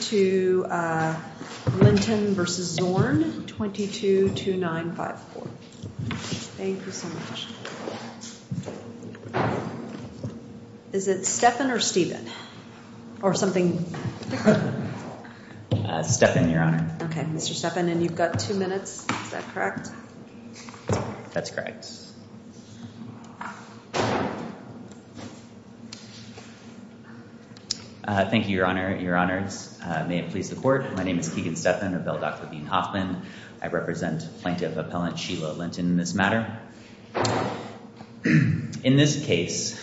222954. Thank you so much. Is it Stephan or Steven? Or something different? Stephan, Your Honor. Okay, Mr. Stephan, and you've got two minutes, is that correct? That's correct. Thank you, Your Honor, Your Honors. May it please the Court. My name is Keegan Stephan of L. Dr. Bean-Hoffman. I represent Plaintiff Appellant Sheila Linton in this matter. In this case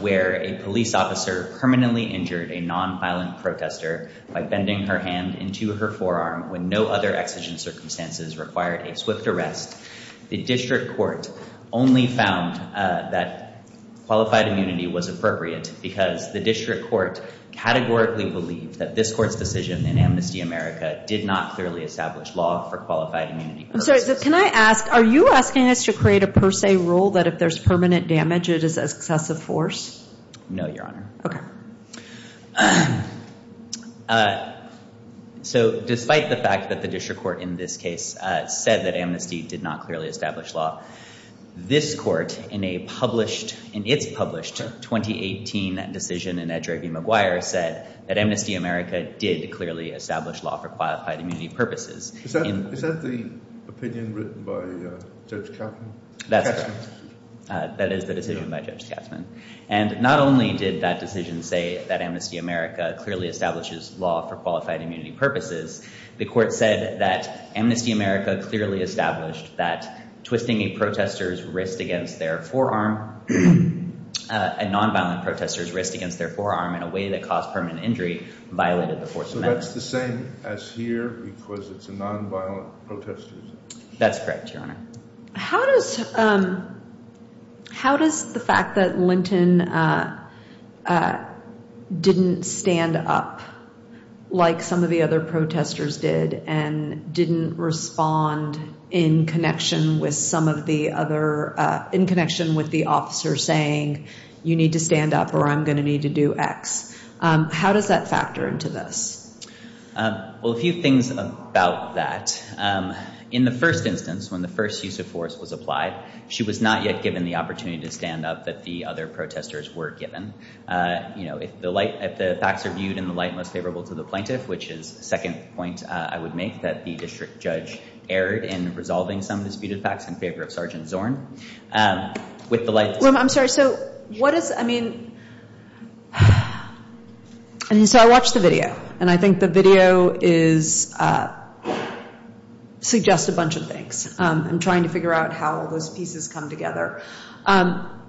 where a police officer permanently injured a nonviolent protester by bending her hand into her forearm when no other exigent circumstances required a swift arrest, the District Court only found that qualified immunity was appropriate because the District Court categorically believed that this Court's decision in Amnesty America did not clearly establish law for qualified immunity purposes. I'm sorry, but can I ask, are you asking us to create a per se rule that if there's permanent damage it is excessive force? No, Your Honor. Okay. So despite the fact that the District Court in this case said that this Court in a published, in its published 2018 decision in Edgerby McGuire said that Amnesty America did clearly establish law for qualified immunity purposes. Is that the opinion written by Judge Katzman? That's correct. That is the decision by Judge Katzman. And not only did that decision say that Amnesty America clearly establishes law for qualified immunity purposes, the Court said that Amnesty America clearly established that twisting a protester's wrist against their forearm, a nonviolent protester's wrist against their forearm in a way that caused permanent injury violated the Fourth Amendment. So that's the same as here because it's a nonviolent protester's? That's correct, Your Honor. How does, um, how does the fact that Linton, uh, uh, didn't stand up like some of the other protesters did and didn't respond in connection with some of the other, uh, in connection with the officer saying, you need to stand up or I'm going to need to do X. Um, how does that factor into this? Well, a few things about that. Um, in the first instance, when the first use of force was applied, she was not yet given the opportunity to stand up that the other protesters were given. Uh, you know, if the light, if the facts are viewed in the light most favorable to the plaintiff, which is second point I would make that the district judge erred in resolving some of the disputed facts in favor of Sergeant Zorn, um, with the light. I'm sorry. So what is, I mean, and so I watched the video and I think the video is, uh, suggest a bunch of things. Um, I'm trying to figure out how all those pieces come together. Um,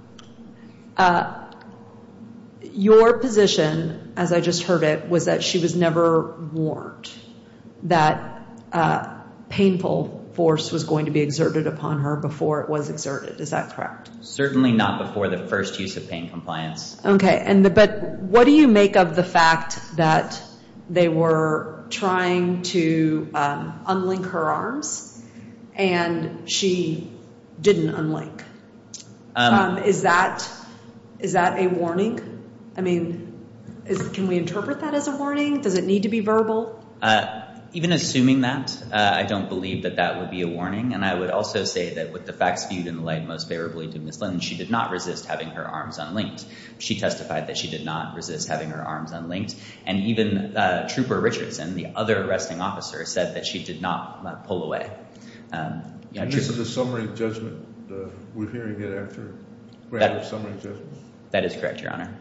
uh, your position, as I just heard it, was that she was never warned that, uh, painful force was going to be exerted upon her before it was exerted. Is that correct? Certainly not before the first use of pain compliance. Okay. And the, but what do you make of the fact that they were trying to, um, unlink her arms and she didn't unlink? Um, is that, is that a warning? I mean, can we interpret that as a warning? Does it need to be verbal? Uh, even assuming that, uh, I don't believe that that would be a warning. And I would also say that with the facts viewed in the light most favorably to Ms. Linden, she did not resist having her arms unlinked. She testified that she did not resist having her arms unlinked. And even, uh, Trooper Richards and the other arresting officer said that she did not, uh, pull away. Um, you know, And this is a summary judgment. Uh, we're hearing it after, after summary judgment. That is correct, Your Honor.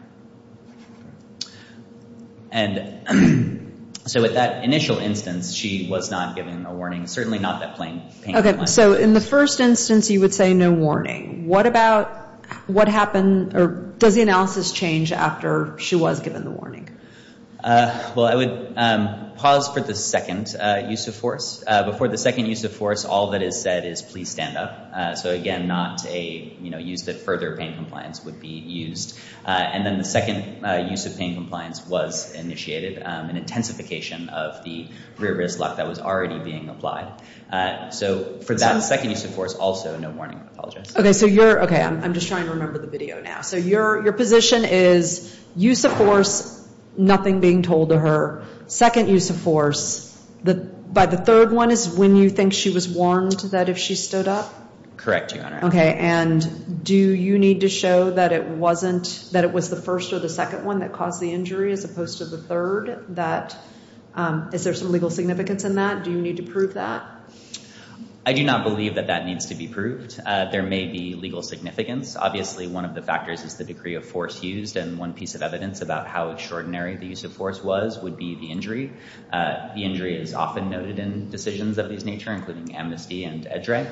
And so with that initial instance, she was not given a warning. Certainly not that plain pain compliance. Okay. So in the first instance, you would say no warning. What about, what happened, or does the analysis change after she was given the warning? Uh, well, I would, um, pause for the second, uh, use of force. Uh, before the second use of force, all that is said is please stand up. Uh, so again, not a, you know, use that further pain compliance would be used. Uh, and then the second, uh, use of pain compliance was initiated, um, an intensification of the rear wrist lock that was already being applied. Uh, so for that second use of force also, no warning. I apologize. Okay. So you're, okay. I'm just trying to remember the nothing being told to her. Second use of force, the, by the third one is when you think she was warned that if she stood up? Correct, Your Honor. Okay. And do you need to show that it wasn't, that it was the first or the second one that caused the injury as opposed to the third, that, um, is there some legal significance in that? Do you need to prove that? I do not believe that that needs to be proved. Uh, there may be legal significance. Obviously, one of the factors is the degree of force used. And one piece of evidence about how extraordinary the use of force was would be the injury. Uh, the injury is often noted in decisions of these nature, including amnesty and edge right.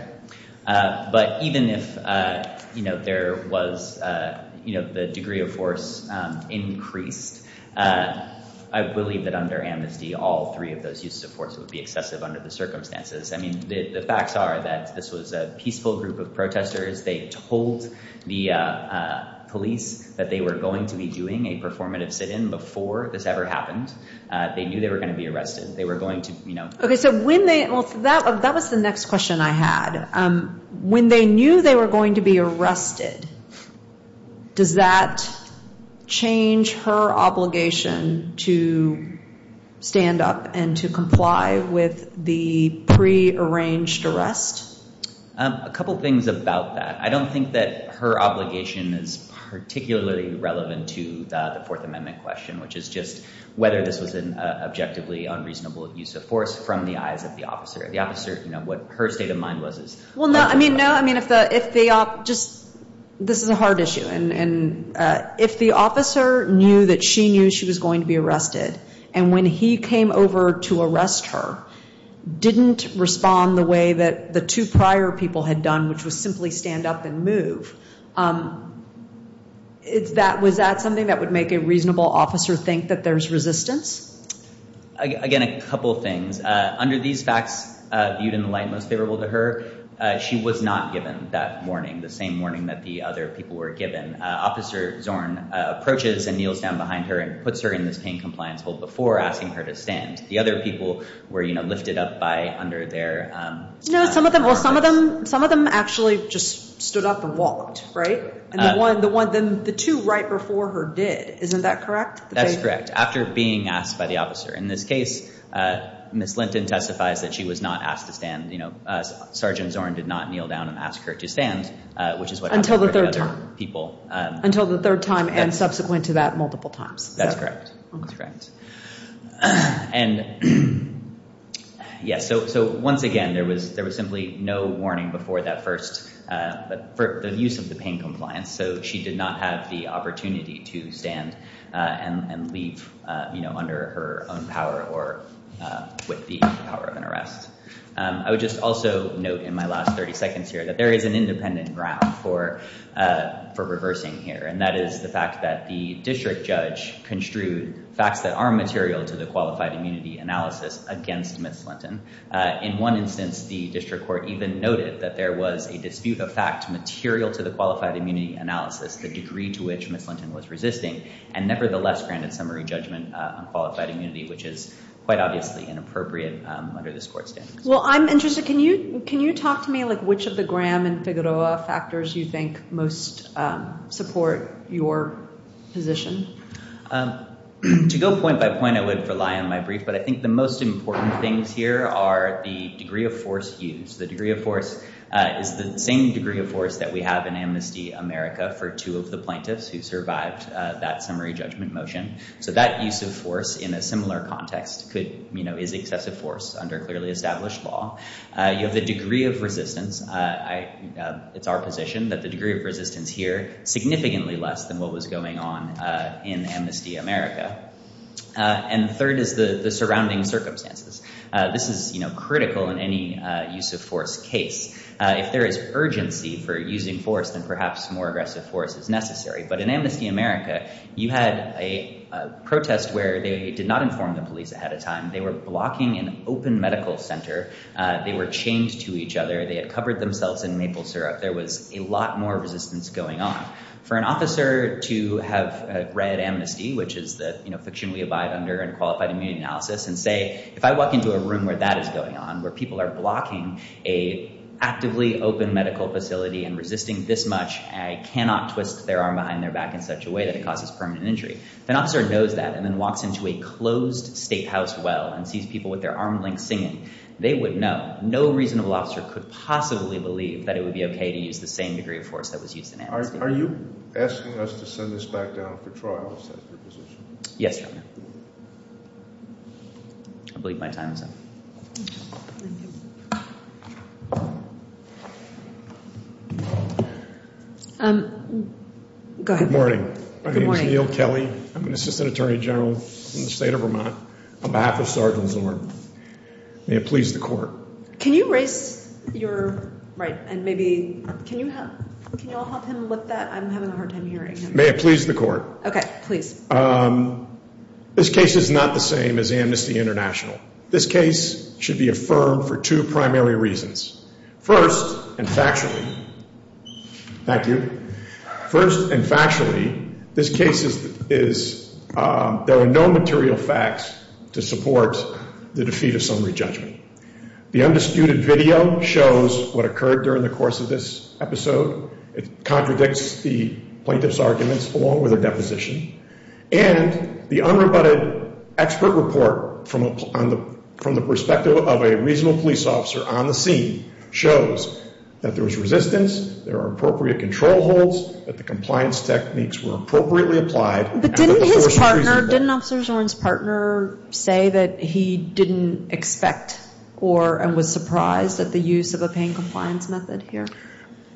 Uh, but even if, uh, you know, there was, uh, you know, the degree of force, um, increased, uh, I believe that under amnesty, all three of those uses of force would be excessive under the circumstances. I mean, the facts are that this was a peaceful group of protesters. They told the, uh, uh, police that they were going to be doing a performative sit-in before this ever happened. Uh, they knew they were going to be arrested. They were going to, you know. Okay. So when they, well, that, that was the next question I had. Um, when they knew they were going to be arrested, does that change her obligation to stand up and comply with the pre-arranged arrest? Um, a couple things about that. I don't think that her obligation is particularly relevant to, uh, the Fourth Amendment question, which is just whether this was an, uh, objectively unreasonable use of force from the eyes of the officer. The officer, you know, what her state of mind was. Well, no, I mean, no, I mean, if the, if they, uh, just, this is a hard issue. And, and, uh, if the officer knew that she knew she was going to And when he came over to arrest her, didn't respond the way that the two prior people had done, which was simply stand up and move. Um, it's that, was that something that would make a reasonable officer think that there's resistance? Again, a couple of things, uh, under these facts, uh, viewed in the light most favorable to her, uh, she was not given that warning, the same warning that the other people were given. Uh, Officer Zorn, uh, approaches and puts her in this pain compliance hold before asking her to stand. The other people were, you know, lifted up by under their, um... No, some of them, well, some of them, some of them actually just stood up and walked, right? And the one, the one, then the two right before her did. Isn't that correct? That's correct. After being asked by the officer, in this case, uh, Ms. Linton testifies that she was not asked to stand, you know, uh, Sergeant Zorn did not kneel down and ask her to stand, uh, which is what happened to other people, uh... Until the third time and subsequent to that multiple times. That's correct. That's correct. And, yeah, so, so once again, there was, there was simply no warning before that first, uh, for the use of the pain compliance. So she did not have the opportunity to stand, uh, and, and leave, uh, you know, under her own power or, uh, with the power of an arrest. Um, I would just also note in my last 30 seconds here that there is an independent ground for, uh, for reversing here. And that is the fact that the district judge construed facts that are material to the qualified immunity analysis against Ms. Linton. Uh, in one instance, the district court even noted that there was a dispute of fact material to the qualified immunity analysis, the degree to which Ms. Linton was resisting and nevertheless granted summary judgment, uh, on qualified immunity, which is quite obviously inappropriate, um, under this court's standards. Well, I'm interested. Can you, can you talk to me like which of the Graham and most, um, support your position? Um, to go point by point, I would rely on my brief, but I think the most important things here are the degree of force used. The degree of force, uh, is the same degree of force that we have in Amnesty America for two of the plaintiffs who survived, uh, that summary judgment motion. So that use of force in a similar context could, you know, is excessive force under clearly established law. Uh, you have the degree of resistance here significantly less than what was going on, uh, in Amnesty America. Uh, and the third is the, the surrounding circumstances. Uh, this is, you know, critical in any, uh, use of force case. Uh, if there is urgency for using force, then perhaps more aggressive force is necessary. But in Amnesty America, you had a protest where they did not inform the police ahead of time. They were blocking an open medical center. Uh, they were chained to each other. They covered themselves in maple syrup. There was a lot more resistance going on. For an officer to have, uh, read Amnesty, which is the, you know, fiction we abide under and qualified immune analysis and say, if I walk into a room where that is going on, where people are blocking a actively open medical facility and resisting this much, I cannot twist their arm behind their back in such a way that it causes permanent injury. If an officer knows that and then walks into a closed state house well and sees people with their arm length singing, they would know no reasonable officer could possibly believe that it would be okay to use the same degree of force that was used in Amnesty. Are you asking us to send this back down for trials? Yes. I believe my time is up. Um, good morning. My name is Neal Kelly. I'm an assistant attorney general in the state of Vermont on behalf of Sergeant Zorn. May it please the court. Can you raise your right? And maybe can you have, can you all help him with that? I'm having a hard time hearing. May it please the court. Okay, please. Um, this case is not the same as Amnesty International. This case should be affirmed for two primary reasons. First and factually, thank you. First and factually, this case is, is, um, there are no material facts to support the defeat of summary judgment. The undisputed video shows what occurred during the course of this episode. It contradicts the plaintiff's arguments along with their deposition. And the unrebutted expert report from on the, from the perspective of a reasonable police officer on the scene shows that there was resistance, there are appropriate control holds, that the compliance techniques were appropriately applied. But didn't his partner, didn't Officer Zorn's partner say that he didn't expect or and was surprised at the use of a pain compliance method here?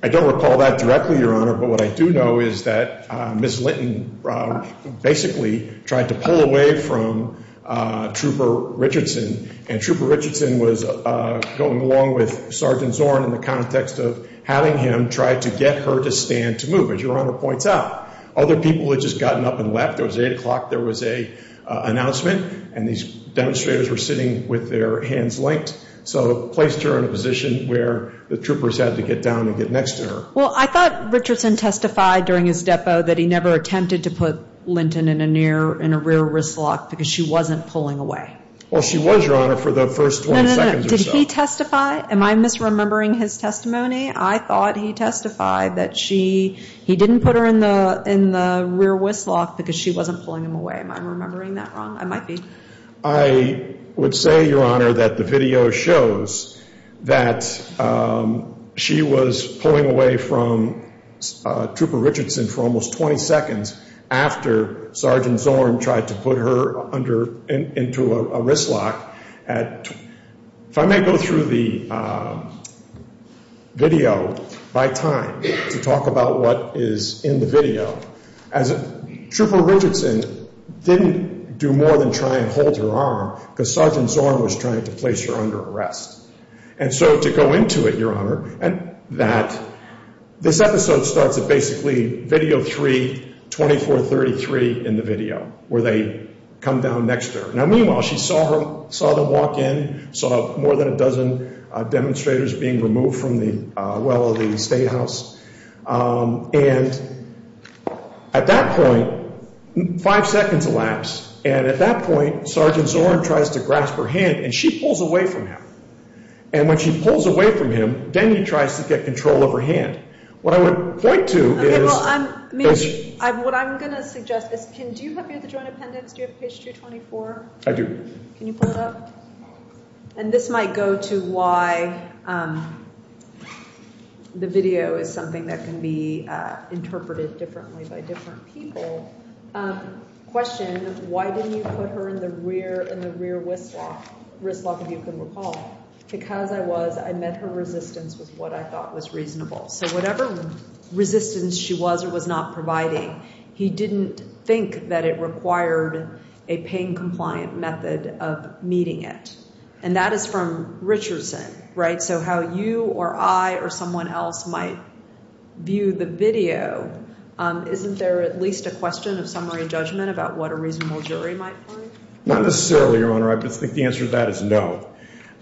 I don't recall that directly, Your Honor. But what I do know is that, uh, Ms. Linton, um, basically tried to pull away from, uh, Trooper Richardson. And Trooper Richardson was, uh, going along with Sergeant Zorn in the to stand to move. As Your Honor points out, other people had just gotten up and left. There was eight o'clock. There was a, uh, announcement and these demonstrators were sitting with their hands linked. So placed her in a position where the troopers had to get down and get next to her. Well, I thought Richardson testified during his depo that he never attempted to put Linton in a near, in a rear wrist lock because she wasn't pulling away. Well, she was, Your Honor, for the Did he testify? Am I misremembering his testimony? I thought he testified that she, he didn't put her in the, in the rear wrist lock because she wasn't pulling him away. Am I remembering that wrong? I might be. I would say, Your Honor, that the video shows that, um, she was pulling away from Trooper Richardson for almost 20 seconds after Sergeant Zorn tried to put her under, into a wrist lock at, if I may go through the, um, video by time to talk about what is in the video as Trooper Richardson didn't do more than try and hold her arm because Sergeant Zorn was trying to place her under arrest. And so to go into it, Your Honor, and that this episode starts at basically video three, 24, 33 in the video where they come down next to her. Now, meanwhile, she saw him, saw them walk in, saw more than a dozen demonstrators being removed from the well of the state house. Um, and at that point, five seconds elapsed. And at that point, Sergeant Zorn tries to grasp her hand and she pulls away from him. And when she pulls away from him, then he tries to get control of her hand. What I would point to is... Okay, well, I'm, what I'm going to suggest is, do you have your joint appendix? Do you have page 224? I do. Can you pull it up? And this might go to why, um, the video is something that can be, uh, interpreted differently by different people. Um, question, why didn't you put her in the rear, wrist lock, if you can recall? Because I was, I met her resistance with what I thought was reasonable. So whatever resistance she was or was not providing, he didn't think that it required a pain compliant method of meeting it. And that is from Richardson, right? So how you or I or someone else might view the video, um, isn't there at least a question of summary judgment about what a reasonable jury might find? Not necessarily, Your Honor. I just think the answer to that is no.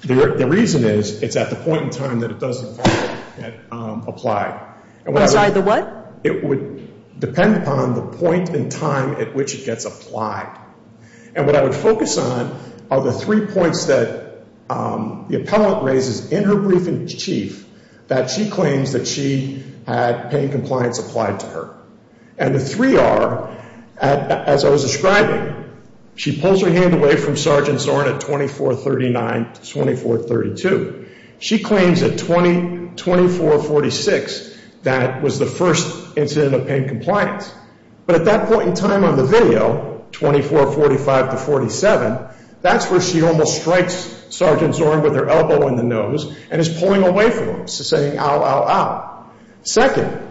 The reason is, it's at the point in time that it doesn't apply. Outside the what? It would depend upon the point in time at which it gets applied. And what I would focus on are the three points that, um, the appellant raises in her brief in chief that she claims that pain compliance applied to her. And the three are, as I was describing, she pulls her hand away from Sergeant Zorn at 2439 to 2432. She claims at 2446 that was the first incident of pain compliance. But at that point in time on the video, 2445 to 47, that's where she almost strikes Sergeant Zorn with her elbow in the nose and is pulling away from him, saying ow, ow, ow. Second,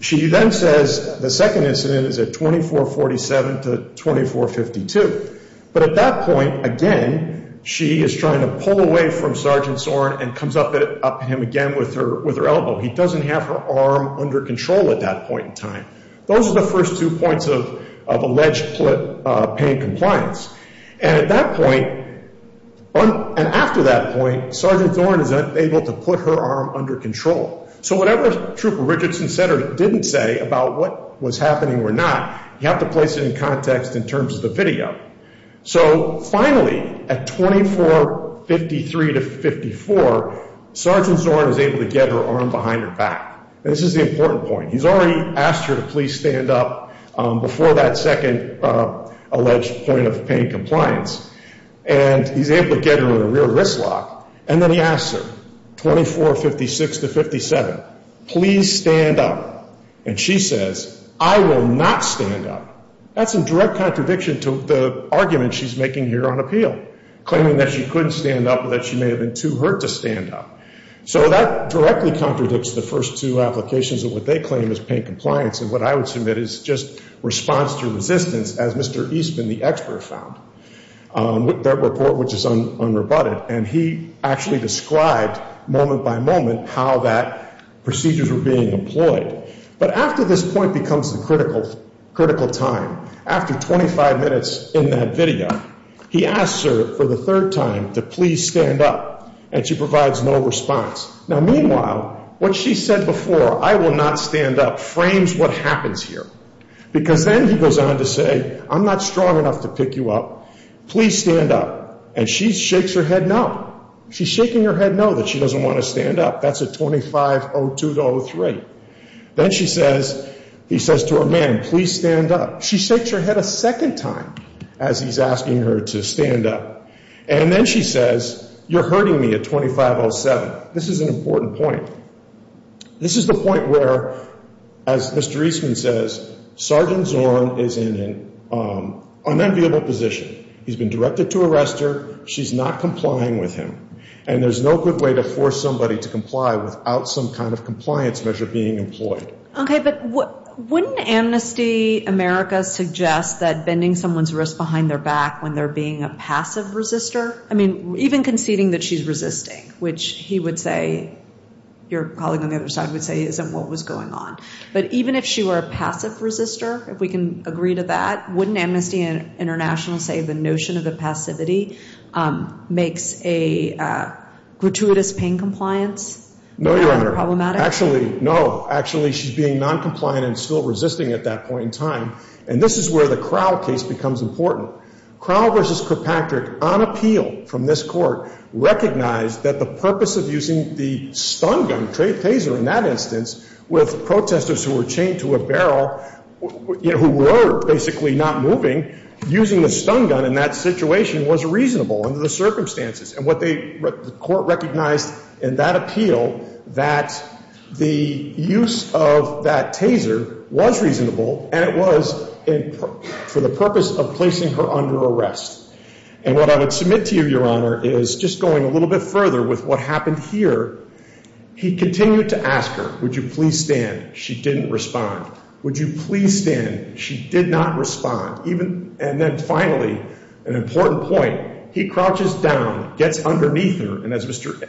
she then says the second incident is at 2447 to 2452. But at that point, again, she is trying to pull away from Sergeant Zorn and comes up at him again with her, with her elbow. He doesn't have her arm under control at that point in time. Those are the first two points of, of alleged pain compliance. And at that point, and after that point, Sergeant Zorn is able to put her arm under control. So whatever Trooper Richardson said or didn't say about what was happening or not, you have to place it in context in terms of the video. So finally, at 2453 to 54, Sergeant Zorn is able to get her arm behind her back. And this is the important point. He's already asked her to please stand up, um, before that second, uh, alleged point of pain compliance. And he's able to get her in a rear wrist lock. And then he asks her, 2456 to 57, please stand up. And she says, I will not stand up. That's in direct contradiction to the argument she's making here on appeal, claiming that she couldn't stand up or that she may have been too hurt to stand up. So that directly contradicts the first two applications of what they claim is pain compliance. And what I would submit is just response to resistance, as Mr. Eastman, the expert, found that report, which is unrebutted. And he actually described moment by moment how that procedures were being employed. But after this point becomes the critical, critical time, after 25 minutes in that video, he asks her for the third time to please stand up. And she provides no response. Now, meanwhile, what she said before, I will not stand up, frames what happens here. Because then he goes on to say, I'm not strong enough to pick you up. Please stand up. And she shakes her head no. She's shaking her head no that she doesn't want to stand up. That's a 2502 to 03. Then she says, he says to her, ma'am, please stand up. She shakes her head a second time as he's asking her to stand up. And then she says, you're hurting me at 2507. This is an important point. This is the point where, as Mr. Eastman says, Sergeant Zorn is in an unenviable position. He's been directed to arrest her. She's not complying with him. And there's no good way to force somebody to comply without some kind of compliance measure being employed. Okay, but wouldn't Amnesty America suggest that bending someone's wrist behind their back when they're being a passive resistor? I mean, even conceding that she's resisting, which he would say, your colleague on the other side would say isn't what was going on. But even if she were a passive resistor, if we can agree to that, wouldn't Amnesty International say the notion of the passivity makes a gratuitous pain compliance problematic? Actually, no. Actually, she's being non-compliant and still resisting at that point in time. And this is where the Crowell case becomes important. Crowell v. Kirkpatrick, on appeal from this Court, recognized that the purpose of using the stun gun, Taser in that instance, with protesters who were chained to a barrel, you know, who were basically not moving, using the stun gun in that situation was reasonable under the circumstances. And what they, the Court recognized in that appeal that the use of that arrest. And what I would submit to you, Your Honor, is just going a little bit further with what happened here. He continued to ask her, would you please stand? She didn't respond. Would you please stand? She did not respond. And then finally, an important point, he crouches down, gets underneath her, and as Mr.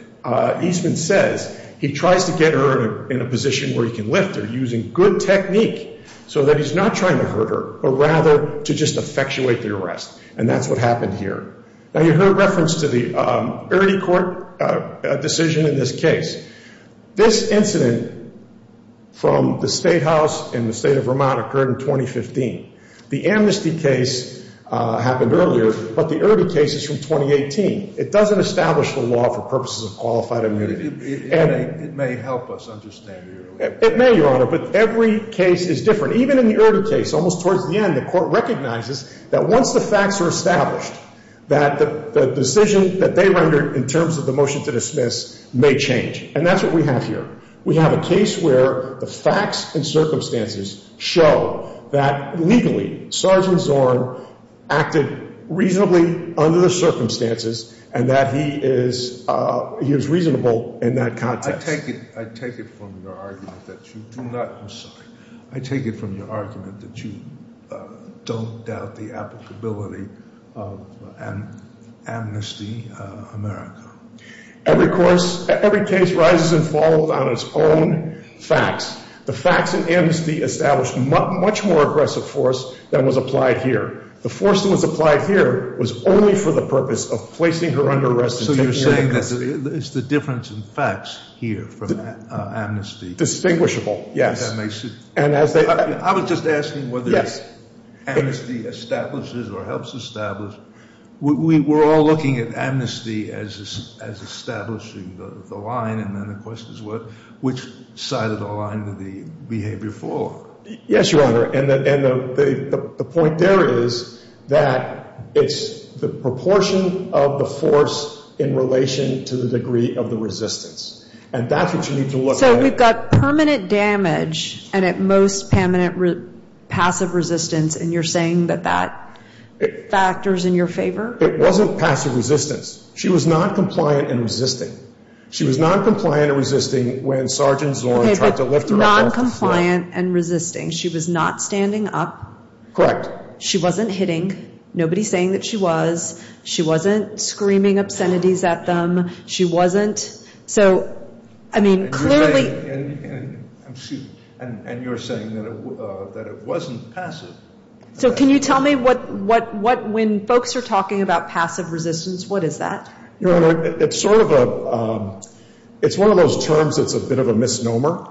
Eastman says, he tries to get her in a position where he can lift her using good technique so that he's not trying to hurt her, but rather to just effectuate the arrest. And that's what happened here. Now, you heard reference to the Erte Court decision in this case. This incident from the State House in the state of Vermont occurred in 2015. The amnesty case happened earlier, but the Erte case is from 2018. It doesn't establish the law for purposes of qualified immunity. It may help us understand it. It may, Your Honor, but every case is different. Even in the Erte case, almost towards the end, the Court recognizes that once the facts are established, that the decision that they rendered in terms of the motion to dismiss may change. And that's what we have here. We have a case where the facts and circumstances show that legally, Sergeant Zorn acted reasonably under the circumstances and that he is reasonable in that context. I take it from your argument that you do not, I'm sorry, I take it from your argument that you don't doubt the applicability of amnesty America. Every course, every case rises and falls on its own facts. The facts and amnesty established much more aggressive force than was applied here. The force that was applied here was only for the purpose of placing her under arrest. So you're saying there's a difference in facts here from amnesty? Distinguishable, yes. I was just asking whether amnesty establishes or helps establish. We're all looking at amnesty as establishing the line, and then the question is which side of the line did the behavior fall on? Yes, Your Honor. And the point there is that it's the proportion of the force in relation to the degree of the resistance. And that's what you need to look at. So we've got permanent damage and at most permanent passive resistance, and you're saying that that factors in your favor? It wasn't passive resistance. She was non-compliant and resisting. She was non-compliant and resisting when Sergeant Zorn tried to lift her up. Non-compliant and resisting. She was not standing up. Correct. She wasn't hitting. Nobody's saying that she was. She wasn't screaming obscenities at them. She wasn't. So, I mean, clearly. And you're saying that it wasn't passive. So can you tell me what, when folks are talking about passive resistance, what is that? Your Honor, it's sort of a, it's one of those terms that's a bit of a misnomer.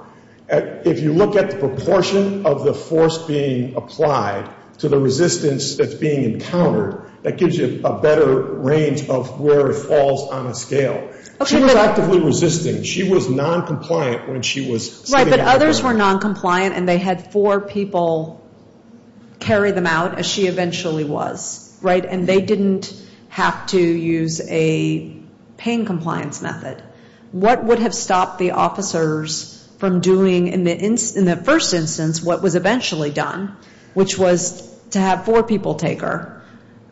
If you look at the proportion of the force being applied to the resistance that's being encountered, that gives you a better range of where it falls on a scale. She was actively resisting. She was non-compliant when she was standing up. Right, but others were non-compliant and they had four people carry them out, as she eventually was. Right, and they didn't have to use a pain compliance method. What would have stopped the officers from doing, in the first instance, what was eventually done, which was to have four people take her,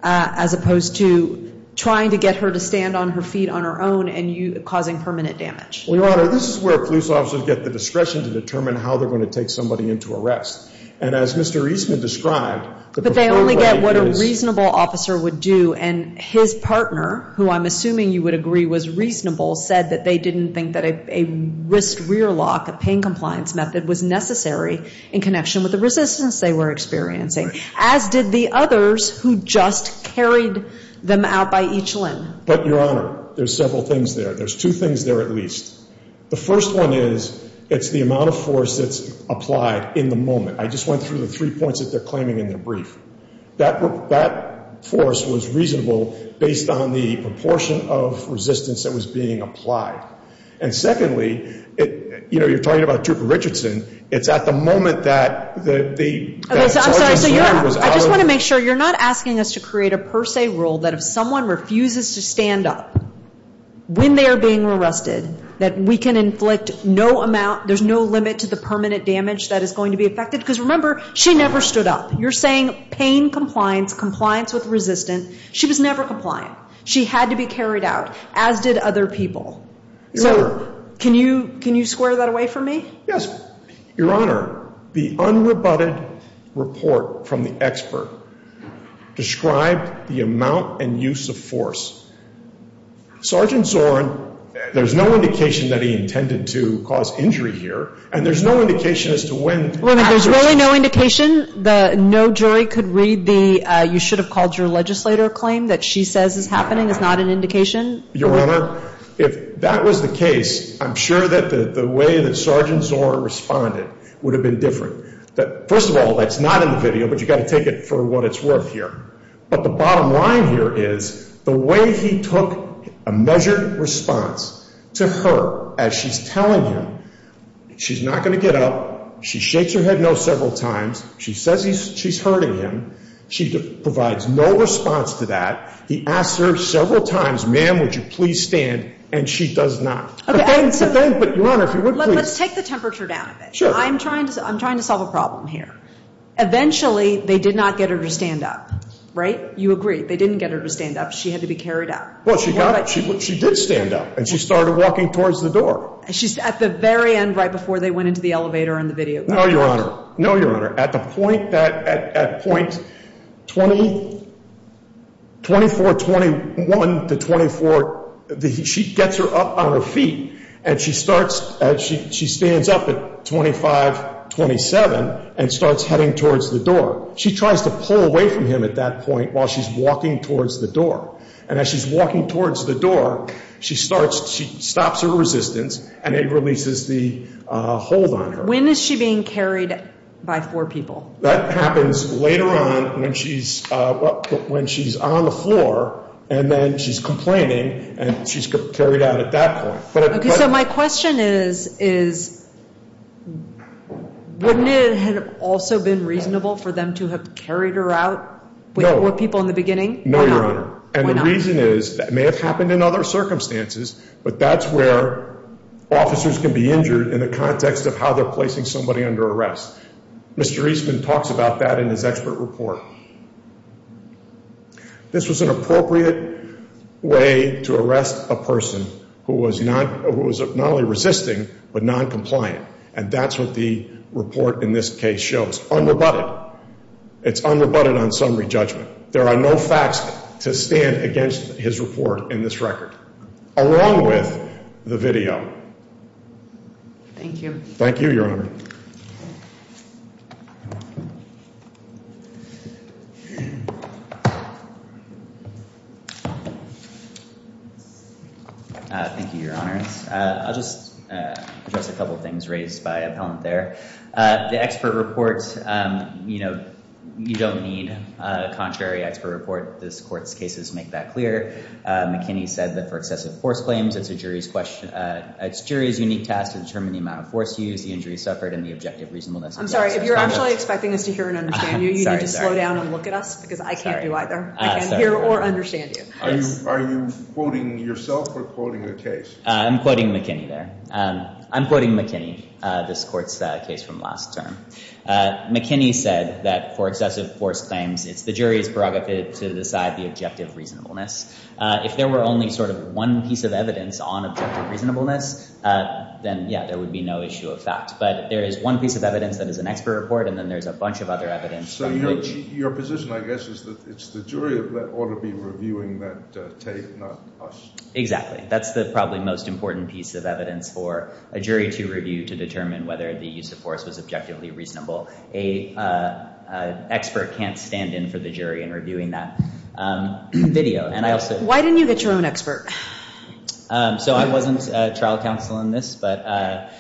as opposed to trying to get her to stand on her feet on her own and causing permanent damage? Well, Your Honor, this is where police officers get the discretion to determine how they're going to take somebody into arrest. And as Mr. Eastman described, the preferred way is... But they only get what a reasonable officer would do, and his partner, who I'm assuming you would agree was reasonable, said that they didn't think that a wrist rear lock, a pain compliance method, was necessary in connection with the resistance they were experiencing, as did the others who just carried them out by each limb. But, Your Honor, there's several things there. There's two things there at least. The first one is, it's the amount of force that's applied in the moment. I just went through the three points that they're claiming in their brief. That force was reasonable based on the proportion of resistance that was being applied. And secondly, you know, you're talking about Trooper Richardson. It's at the moment that the... I just want to make sure you're not asking us to create a per se rule that if someone refuses to stand up when they are being arrested, that we can inflict no amount, there's no limit to the permanent damage that is going to be affected. Because remember, she never stood up. You're saying pain compliance, compliance with resistance. She was never compliant. She had to be carried out, as did other people. Your Honor... Can you square that away for me? Your Honor, the unrebutted report from the expert described the amount and use of force. Sergeant Zorn, there's no indication that he intended to cause injury here, and there's no indication as to when... There's really no indication? No jury could read the, you should have called your legislator claim that she says is happening, is not an indication? Your Honor, if that was the case, I'm sure that the way that Sergeant Zorn responded would have been different. First of all, that's not in the video, but you've got to take it for what it's worth here. But the bottom line here is the way he took a measured response to her as she's telling him she's not going to get up, she shakes her head no several times, she says she's hurting him, she provides no response to that, he asks her several times, ma'am, would you please stand, and she does not. Let's take the temperature down a bit. I'm trying to solve a problem here. Eventually, they did not get her to stand up, right? You agree, they didn't get her to stand up, she had to be carried up. Well, she got up, she did stand up, and she started walking towards the door. At the very end, right before they went into the elevator and the video. No, Your Honor. At the point that, at point 24, 21 to 24, she gets her up on her feet, and she starts, she stands up at 25, 27, and starts heading towards the door. She tries to pull away from him at that point while she's walking towards the door. And as she's walking towards the door, she starts, she stops her resistance, and it releases the hold on her. When is she being carried by four people? That happens later on when she's on the floor, and then she's complaining, and she's carried out at that point. Okay, so my question is, wouldn't it have also been reasonable for them to have carried her out with four people in the beginning? No, Your Honor. And the reason is, that may have happened in other circumstances, but that's where officers can be injured in the context of how they're placing somebody under arrest. Mr. Eastman talks about that in his expert report. This was an appropriate way to arrest a person who was not only resisting, but noncompliant. And that's what the report in this case shows. Unrebutted. It's unrebutted on summary judgment. There are no facts to stand against his report in this record, along with the video. Thank you. Thank you, Your Honor. Thank you, Your Honor. I'll just address a couple things raised by appellant there. The expert report, you know, you don't need a contrary expert report. This court's cases make that clear. McKinney said that for excessive force claims, it's a jury's unique task to determine the amount of force used, the injuries suffered, and the objective reasonableness of the officer's conduct. I'm sorry, if you're actually expecting us to hear and understand you, you need to slow down and look at us, because I can't do either. I can't hear or understand you. Are you quoting yourself or quoting the case? I'm quoting McKinney there. I'm quoting McKinney, this court's case from last term. McKinney said that for excessive force claims, it's the jury's prerogative to decide the objective reasonableness. If there were only sort of one piece of evidence on objective reasonableness, then, yeah, there would be no issue of fact. But there is one piece of evidence that is an expert report, and then there's a bunch of other evidence. So your position, I guess, is that it's the jury that ought to be reviewing that tape, not us. Exactly. That's the probably most important piece of evidence for a jury to review to determine whether the use of force was objectively reasonable. An expert can't stand in for the jury in reviewing that video. Why didn't you get your own expert? So I wasn't trial counsel in this, but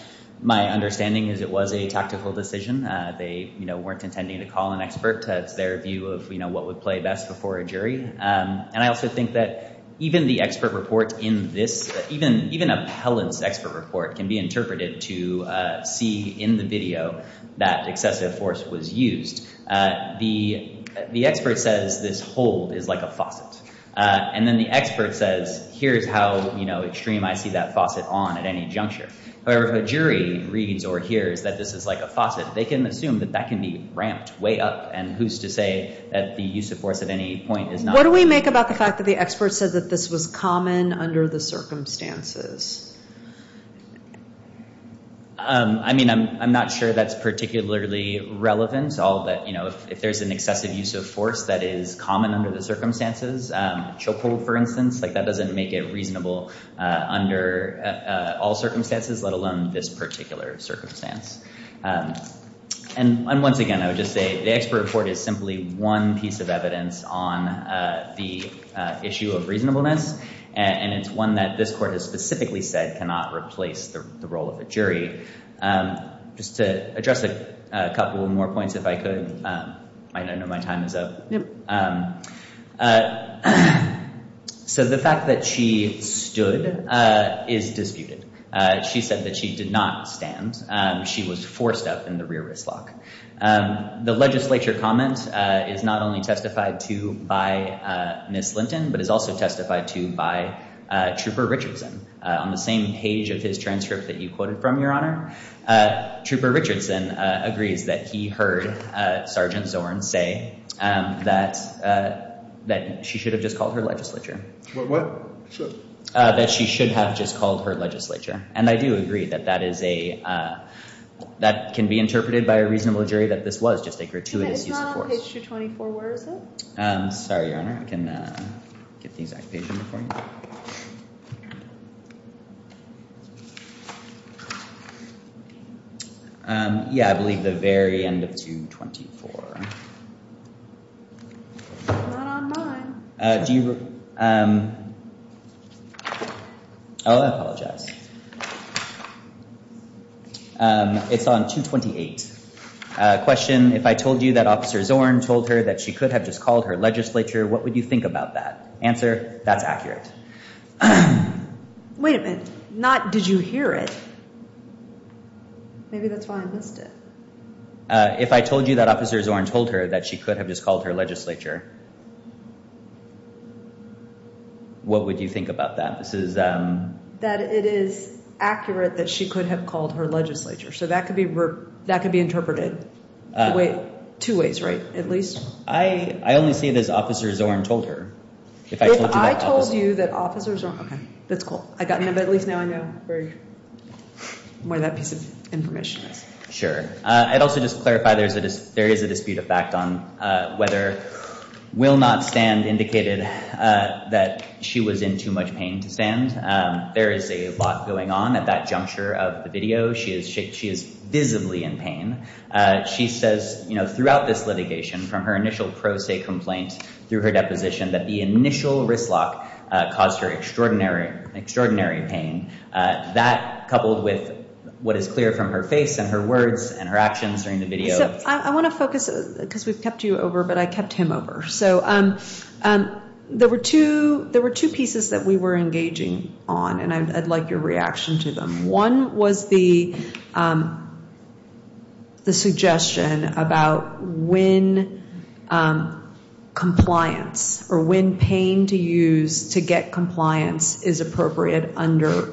my understanding is it was a tactical decision. They weren't intending to call an expert. That's their view of what would play best before a jury. And I also think that even the expert report in this, even appellant's expert report can be interpreted to see in the video that excessive force was used. The expert says this hold is like a faucet. And then the expert says, here's how extreme I see that faucet on at any juncture. However, if a jury reads or hears that this is like a faucet, they can assume that that can be ramped way up. And who's to say that the use of force at any point is not— What do we make about the fact that the expert said that this was common under the circumstances? I mean, I'm not sure that's particularly relevant. If there's an excessive use of force that is common under the circumstances, chokehold, for instance, that doesn't make it reasonable under all circumstances, let alone this particular circumstance. And once again, I would just say the expert report is simply one piece of evidence on the issue of reasonableness. And it's one that this court has specifically said cannot replace the role of a jury. Just to address a couple more points, if I could, I know my time is up. So the fact that she stood is disputed. She said that she did not stand. She was forced up in the rear wrist lock. The legislature comment is not only testified to by Ms. Linton, but is also testified to by Trooper Richardson. On the same page of his transcript that you quoted from, Your Honor, Trooper Richardson agrees that he heard Sergeant Zorn say that she should have just called her legislature. What? That she should have just called her legislature. And I do agree that that can be interpreted by a reasonable jury that this was just a gratuitous use of force. It's not on page 224. Where is it? Sorry, Your Honor. I can get the exact page number for you. Yeah, I believe the very end of 224. Not on mine. Do you... Oh, I apologize. It's on 228. Question, if I told you that Officer Zorn told her that she could have just called her legislature, what would you think about that? Answer, that's accurate. Wait a minute. Not, did you hear it? Maybe that's why I missed it. If I told you that Officer Zorn told her that she could have just called her legislature... What would you think about that? This is... That it is accurate that she could have called her legislature. So that could be interpreted two ways, right? At least... I only see it as Officer Zorn told her. If I told you that Officer Zorn... Okay, that's cool. I got it, but at least now I know where that piece of information is. Sure. I'd also just clarify there is a dispute of fact on whether will not stand indicated that she was in too much pain to stand. There is a lot going on at that juncture of the video. She is visibly in pain. She says throughout this litigation from her initial pro se complaint through her deposition that the initial wrist lock caused her extraordinary pain. That coupled with what is clear from her face and her words and her actions during the video... I want to focus, because we've kept you over, but I kept him over. So there were two pieces that we were engaging on, and I'd like your reaction to them. One was the suggestion about when compliance or when pain to use to get compliance is appropriate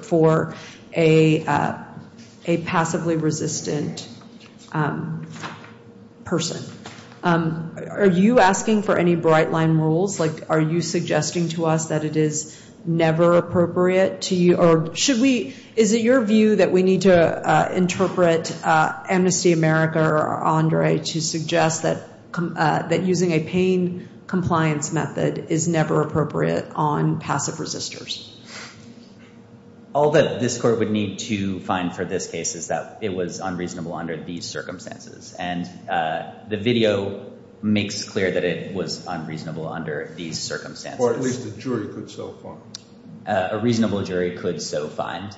for a passively resistant person. Are you asking for any bright line rules? Are you suggesting to us that it is never appropriate? Is it your view that we need to interpret Amnesty America or Andre to suggest that using a pain compliance method is never appropriate on passive resistors? All that this court would need to find for this case is that it was unreasonable under these circumstances. And the video makes clear that it was unreasonable under these circumstances. Or at least a jury could so find. A reasonable jury could so find.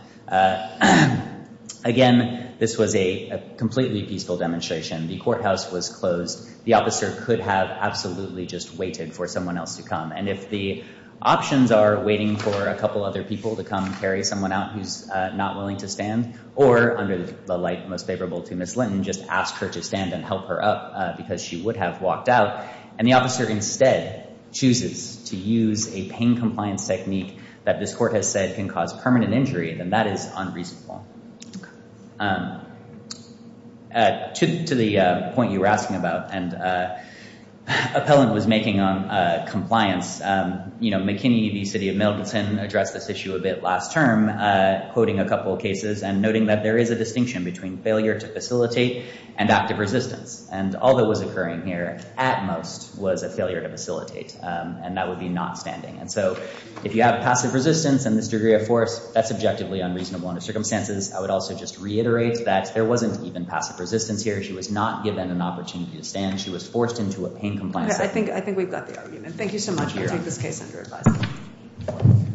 Again, this was a completely peaceful demonstration. The courthouse was closed. The officer could have absolutely just waited for someone else to come. And if the options are waiting for a couple other people to come carry someone out who's not willing to stand, or under the light most favorable to Ms. Linton, just ask her to stand and help her up because she would have walked out, and the officer instead chooses to use a pain compliance technique that this court has said can cause permanent injury, then that is unreasonable. To the point you were asking about, and Appellant was making on compliance, you know, McKinney v. City of Middleton addressed this issue a bit last term, quoting a couple of cases and noting that there is a distinction between failure to facilitate and active resistance. And all that was occurring here at most was a failure to facilitate. And that would be not standing. And so if you have passive resistance and this degree of force, that's objectively unreasonable under circumstances. I would also just reiterate that there wasn't even passive resistance here. She was not given an opportunity to stand. She was forced into a pain compliance technique. I think we've got the argument. Thank you so much. We'll take this case under advisement.